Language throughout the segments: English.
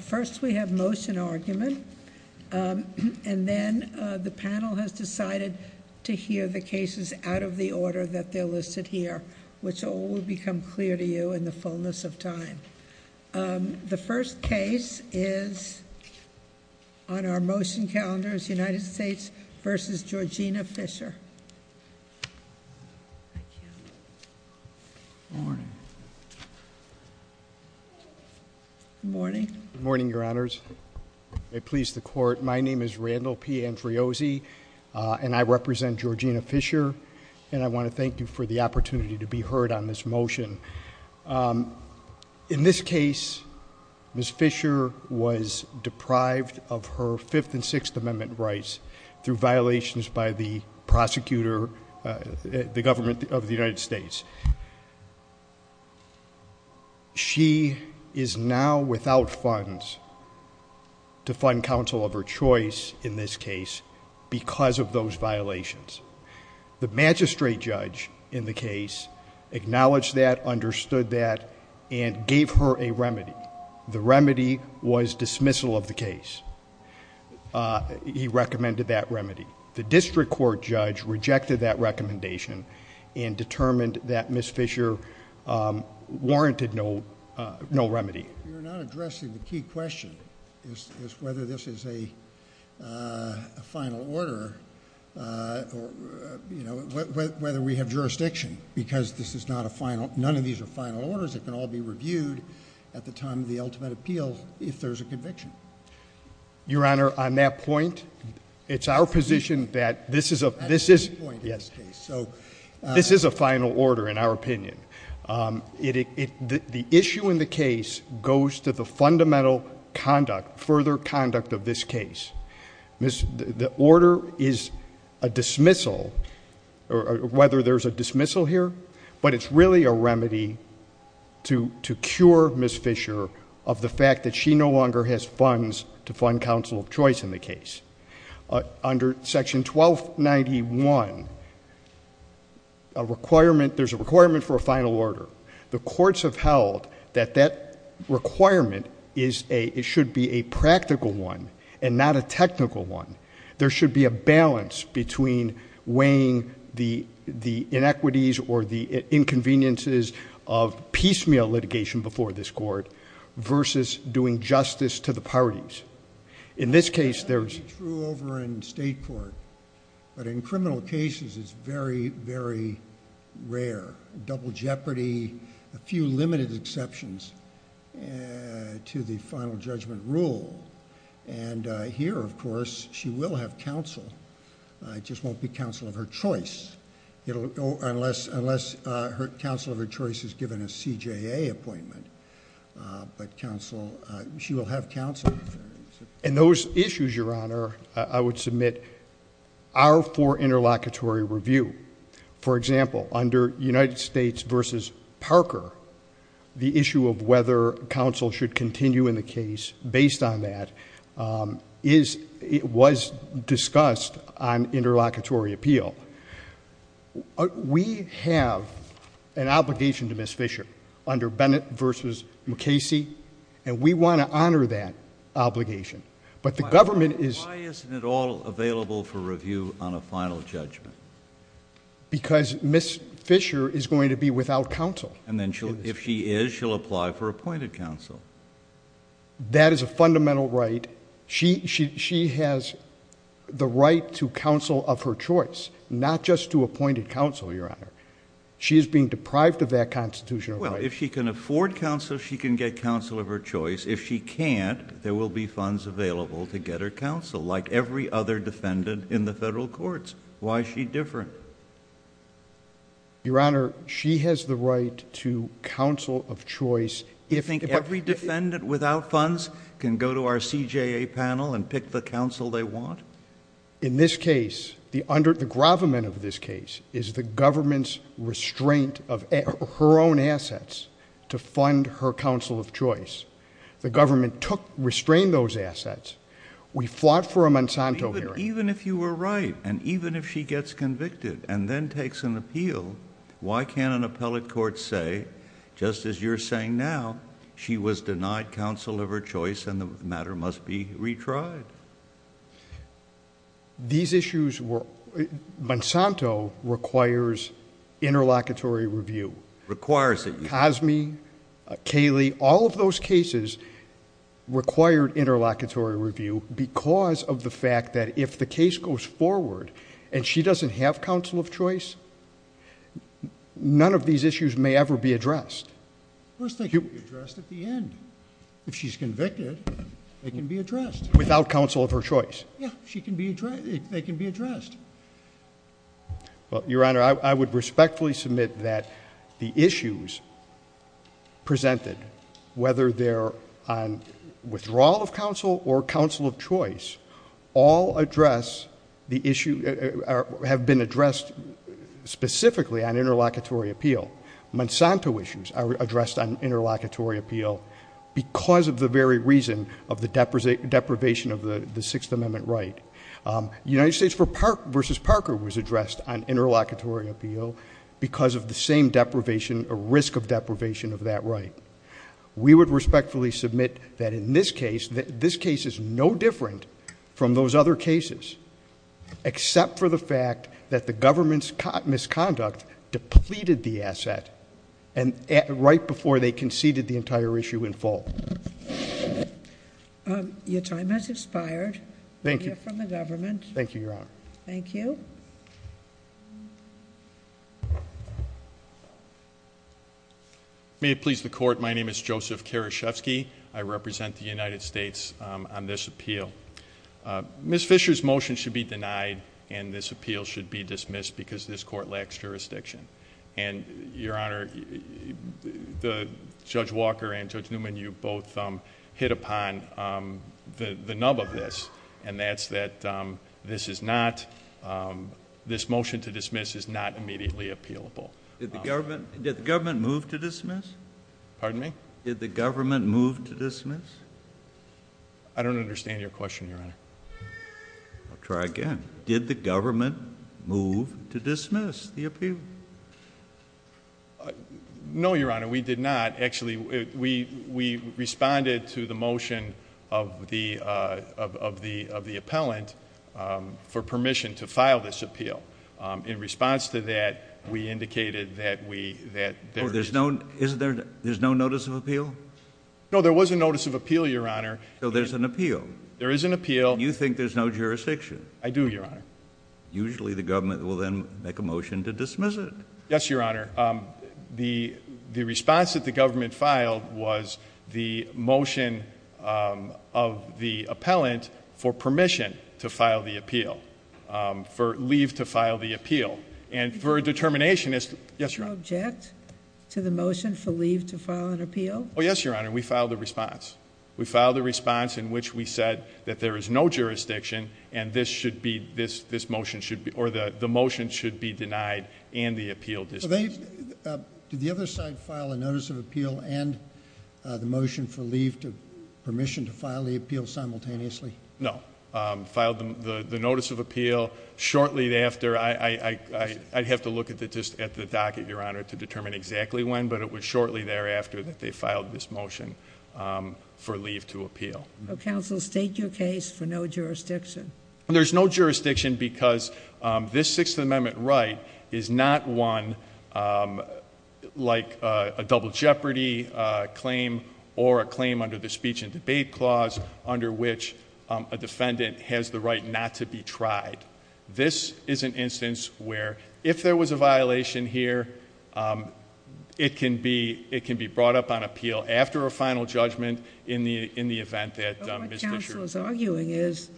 First, we have motion argument. And then the panel has decided to hear the cases out of the order that they're listed here, which will become clear to you in the fullness of time. The first case is on our motion calendars, United States v. Georgina Fisher. Good morning, Your Honors. May it please the Court, my name is Randall P. Andreozzi, and I represent Georgina Fisher, and I want to thank you for the opportunity to be heard on this motion. In this case, Ms. Fisher was deprived of her Fifth and Sixth Amendment rights through violations by the prosecutor, the government of the United States. She is now without funds to fund counsel of her choice in this case because of those violations. The magistrate judge in the case acknowledged that, understood that, and gave her a remedy. The remedy was dismissal of the case. He recommended that remedy. The district court judge rejected that recommendation and determined that Ms. Fisher warranted no remedy. You're not addressing the key question, which is whether this is a final order, whether we have jurisdiction, because none of these are final orders that can all be reviewed at the time of the ultimate appeal if there's a conviction. Your Honor, on that point, it's our position that this is a final order in our opinion. The issue in the case goes to the fundamental conduct, further conduct of this case. The order is a dismissal, whether there's a dismissal here, but it's really a remedy to cure Ms. Fisher of the fact that she no longer has funds to fund counsel of choice in the case. Under section 1291, there's a requirement for a final order. The courts have held that that requirement should be a practical one and not a technical one. There should be a balance between weighing the inequities or the inconveniences of piecemeal litigation before this court versus doing justice to the parties. In this case, there's... It's true over in state court, but in criminal cases, it's very, very rare. Double jeopardy, a few limited exceptions to the final judgment rule. Here, of course, she will have counsel. It just won't be counsel of her choice unless counsel of her choice is given a CJA appointment. She will have counsel. Those issues, Your Honor, I would submit are for interlocutory review. For example, under United States v. Parker, the issue of whether counsel should continue in the case based on that was discussed on interlocutory appeal. We have an obligation to Ms. Fisher under Bennett v. McCasey, and we want to honor that obligation. But the government is... Why isn't it all available for review on a final judgment? Because Ms. Fisher is going to be without counsel. And then if she is, she'll apply for appointed counsel. That is a fundamental right. She has the right to counsel of her choice, not just to appointed counsel, Your Honor. She is being deprived of that constitutional right. Well, if she can afford counsel, she can get counsel of her choice. If she can't, there will be funds available to get her counsel, like every other defendant in the federal courts. Why is she different? Your Honor, she has the right to counsel of choice... Do you think every defendant without funds can go to our CJA panel and pick the counsel they want? In this case, the gravamen of this case is the government's restraint of her own assets to fund her counsel of choice. The government restrained those assets. We fought for a Monsanto hearing. Even if you were right, and even if she gets convicted and then takes an appeal, why can't an appellate court say, just as you're saying now, she was denied counsel of her choice and the matter must be retried? These issues were... Monsanto requires interlocutory review. Requires it. Cosme, Cayley, all of those cases required interlocutory review because of the fact that if the case goes forward and she doesn't have counsel of choice, none of these issues may ever be addressed. Of course they can be addressed at the end. If she's convicted, they can be addressed. Without counsel of her choice? Yeah. They can be addressed. Well, Your Honor, I would respectfully submit that the issues presented, whether they're on withdrawal of counsel or counsel of choice, all address the issue... have been addressed specifically on interlocutory appeal. Monsanto issues are addressed on interlocutory appeal because of the very reason of the deprivation of the Sixth Amendment right. United States v. Parker was addressed on interlocutory appeal because of the same deprivation or risk of deprivation of that right. We would respectfully submit that in this case, this case is no different from those other cases, except for the fact that the government's misconduct depleted the asset right before they conceded the entire issue in full. Your time has expired. Thank you. You're from the government. Thank you, Your Honor. Thank you. May it please the Court, my name is Joseph Karaszewski. I represent the United States on this appeal. Ms. Fisher's motion should be denied and this appeal should be dismissed because this court lacks jurisdiction. Your Honor, Judge Walker and Judge Newman, you both hit upon the nub of this, and that's that this motion to dismiss is not immediately appealable. Did the government move to dismiss? Pardon me? Did the government move to dismiss? I don't understand your question, Your Honor. Try again. Did the government move to dismiss the appeal? No, Your Honor, we did not. Actually, we responded to the motion of the appellant for permission to file this appeal. In response to that, we indicated that we, that there is. There's no notice of appeal? No, there was a notice of appeal, Your Honor. So there's an appeal? There is an appeal. You think there's no jurisdiction? I do, Your Honor. Usually the government will then make a motion to dismiss it. Yes, Your Honor. The response that the government filed was the motion of the appellant for permission to file the appeal, for leave to file the appeal. And for a determination as to... Yes, Your Honor. Do you object to the motion for leave to file an appeal? Oh, yes, Your Honor. We filed a response. We filed a response in which we said that there is no jurisdiction and this should be, this motion should be, or the motion should be denied and the appeal dismissed. Did the other side file a notice of appeal and the motion for leave to, permission to file the appeal simultaneously? No. Filed the notice of appeal shortly after. I'd have to look at the docket, Your Honor, to determine exactly when, but it was shortly thereafter that they filed this motion for leave to appeal. Counsel, state your case for no jurisdiction. There's no jurisdiction because this Sixth Amendment right is not one like a double jeopardy claim or a claim under the Speech and Debate Clause under which a defendant has the right not to be tried. This is an instance where if there was a violation here, it can be brought up on appeal after a final judgment in the event that Ms. Fisher... But what counsel is arguing is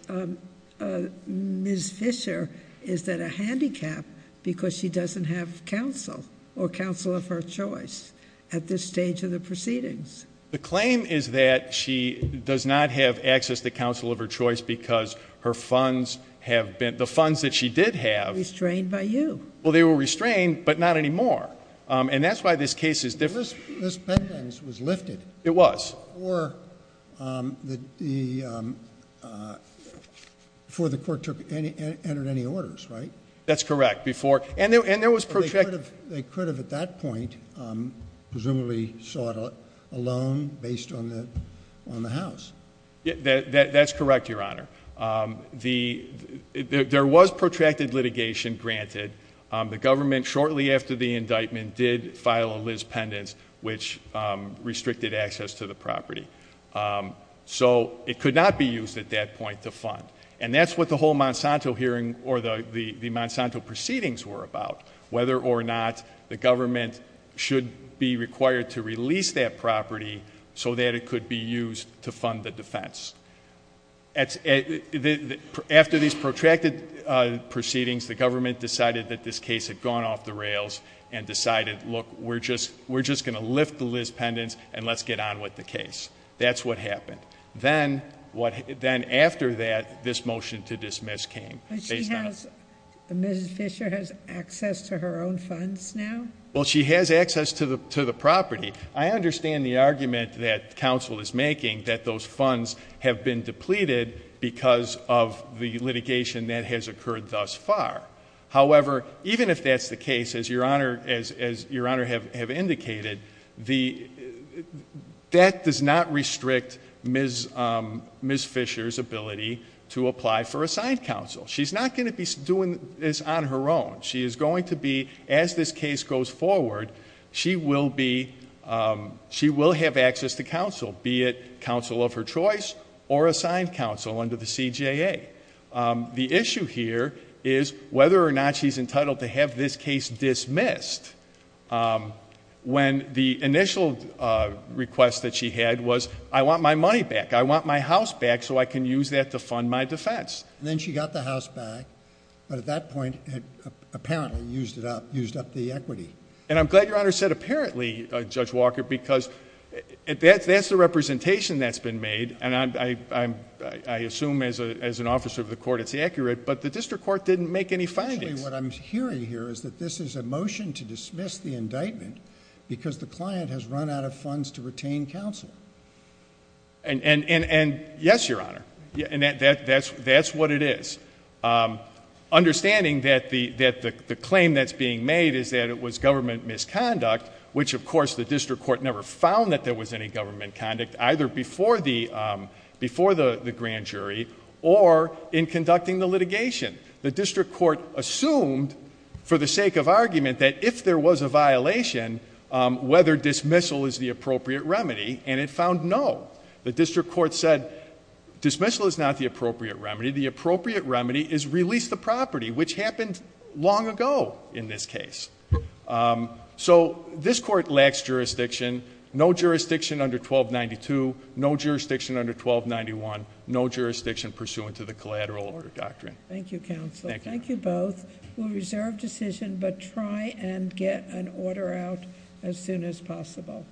Ms. Fisher is at a handicap because she doesn't have counsel or counsel of her choice at this stage of the proceedings. The claim is that she does not have access to counsel of her choice because her funds have been... The funds that she did have... Were restrained by you. Well, they were restrained, but not anymore. And that's why this case is different. This pendant was lifted. It was. Before the court entered any orders, right? That's correct. They could have, at that point, presumably sought a loan based on the house. That's correct, Your Honor. There was protracted litigation granted. The government, shortly after the indictment, did file a Liz pendants which restricted access to the property. So it could not be used at that point to fund. And that's what the whole Monsanto hearing or the Monsanto proceedings were about. Whether or not the government should be required to release that property so that it could be used to fund the defense. After these protracted proceedings, the government decided that this case had gone off the rails. And decided, look, we're just going to lift the Liz pendants and let's get on with the case. That's what happened. Then after that, this motion to dismiss came. But she has, Mrs. Fisher has access to her own funds now? Well, she has access to the property. I understand the argument that counsel is making that those funds have been depleted because of the litigation that has occurred thus far. However, even if that's the case, as Your Honor have indicated, that does not restrict Ms. Fisher's ability to apply for assigned counsel. She's not going to be doing this on her own. She is going to be, as this case goes forward, she will have access to counsel. Be it counsel of her choice or assigned counsel under the CJA. The issue here is whether or not she's entitled to have this case dismissed. When the initial request that she had was, I want my money back. I want my house back so I can use that to fund my defense. Then she got the house back. But at that point, apparently used it up, used up the equity. And I'm glad Your Honor said apparently, Judge Walker, because that's the representation that's been made. I assume as an officer of the court it's accurate, but the district court didn't make any findings. What I'm hearing here is that this is a motion to dismiss the indictment because the client has run out of funds to retain counsel. Yes, Your Honor. That's what it is. Understanding that the claim that's being made is that it was government misconduct, which of course the district court never found that there was any government conduct either before the grand jury or in conducting the litigation. The district court assumed for the sake of argument that if there was a violation, whether dismissal is the appropriate remedy, and it found no. The district court said dismissal is not the appropriate remedy. The appropriate remedy is release the property, which happened long ago in this case. So this court lacks jurisdiction. No jurisdiction under 1292. No jurisdiction under 1291. No jurisdiction pursuant to the collateral order doctrine. Thank you counsel. Thank you both. We'll reserve decision but try and get an order out as soon as possible.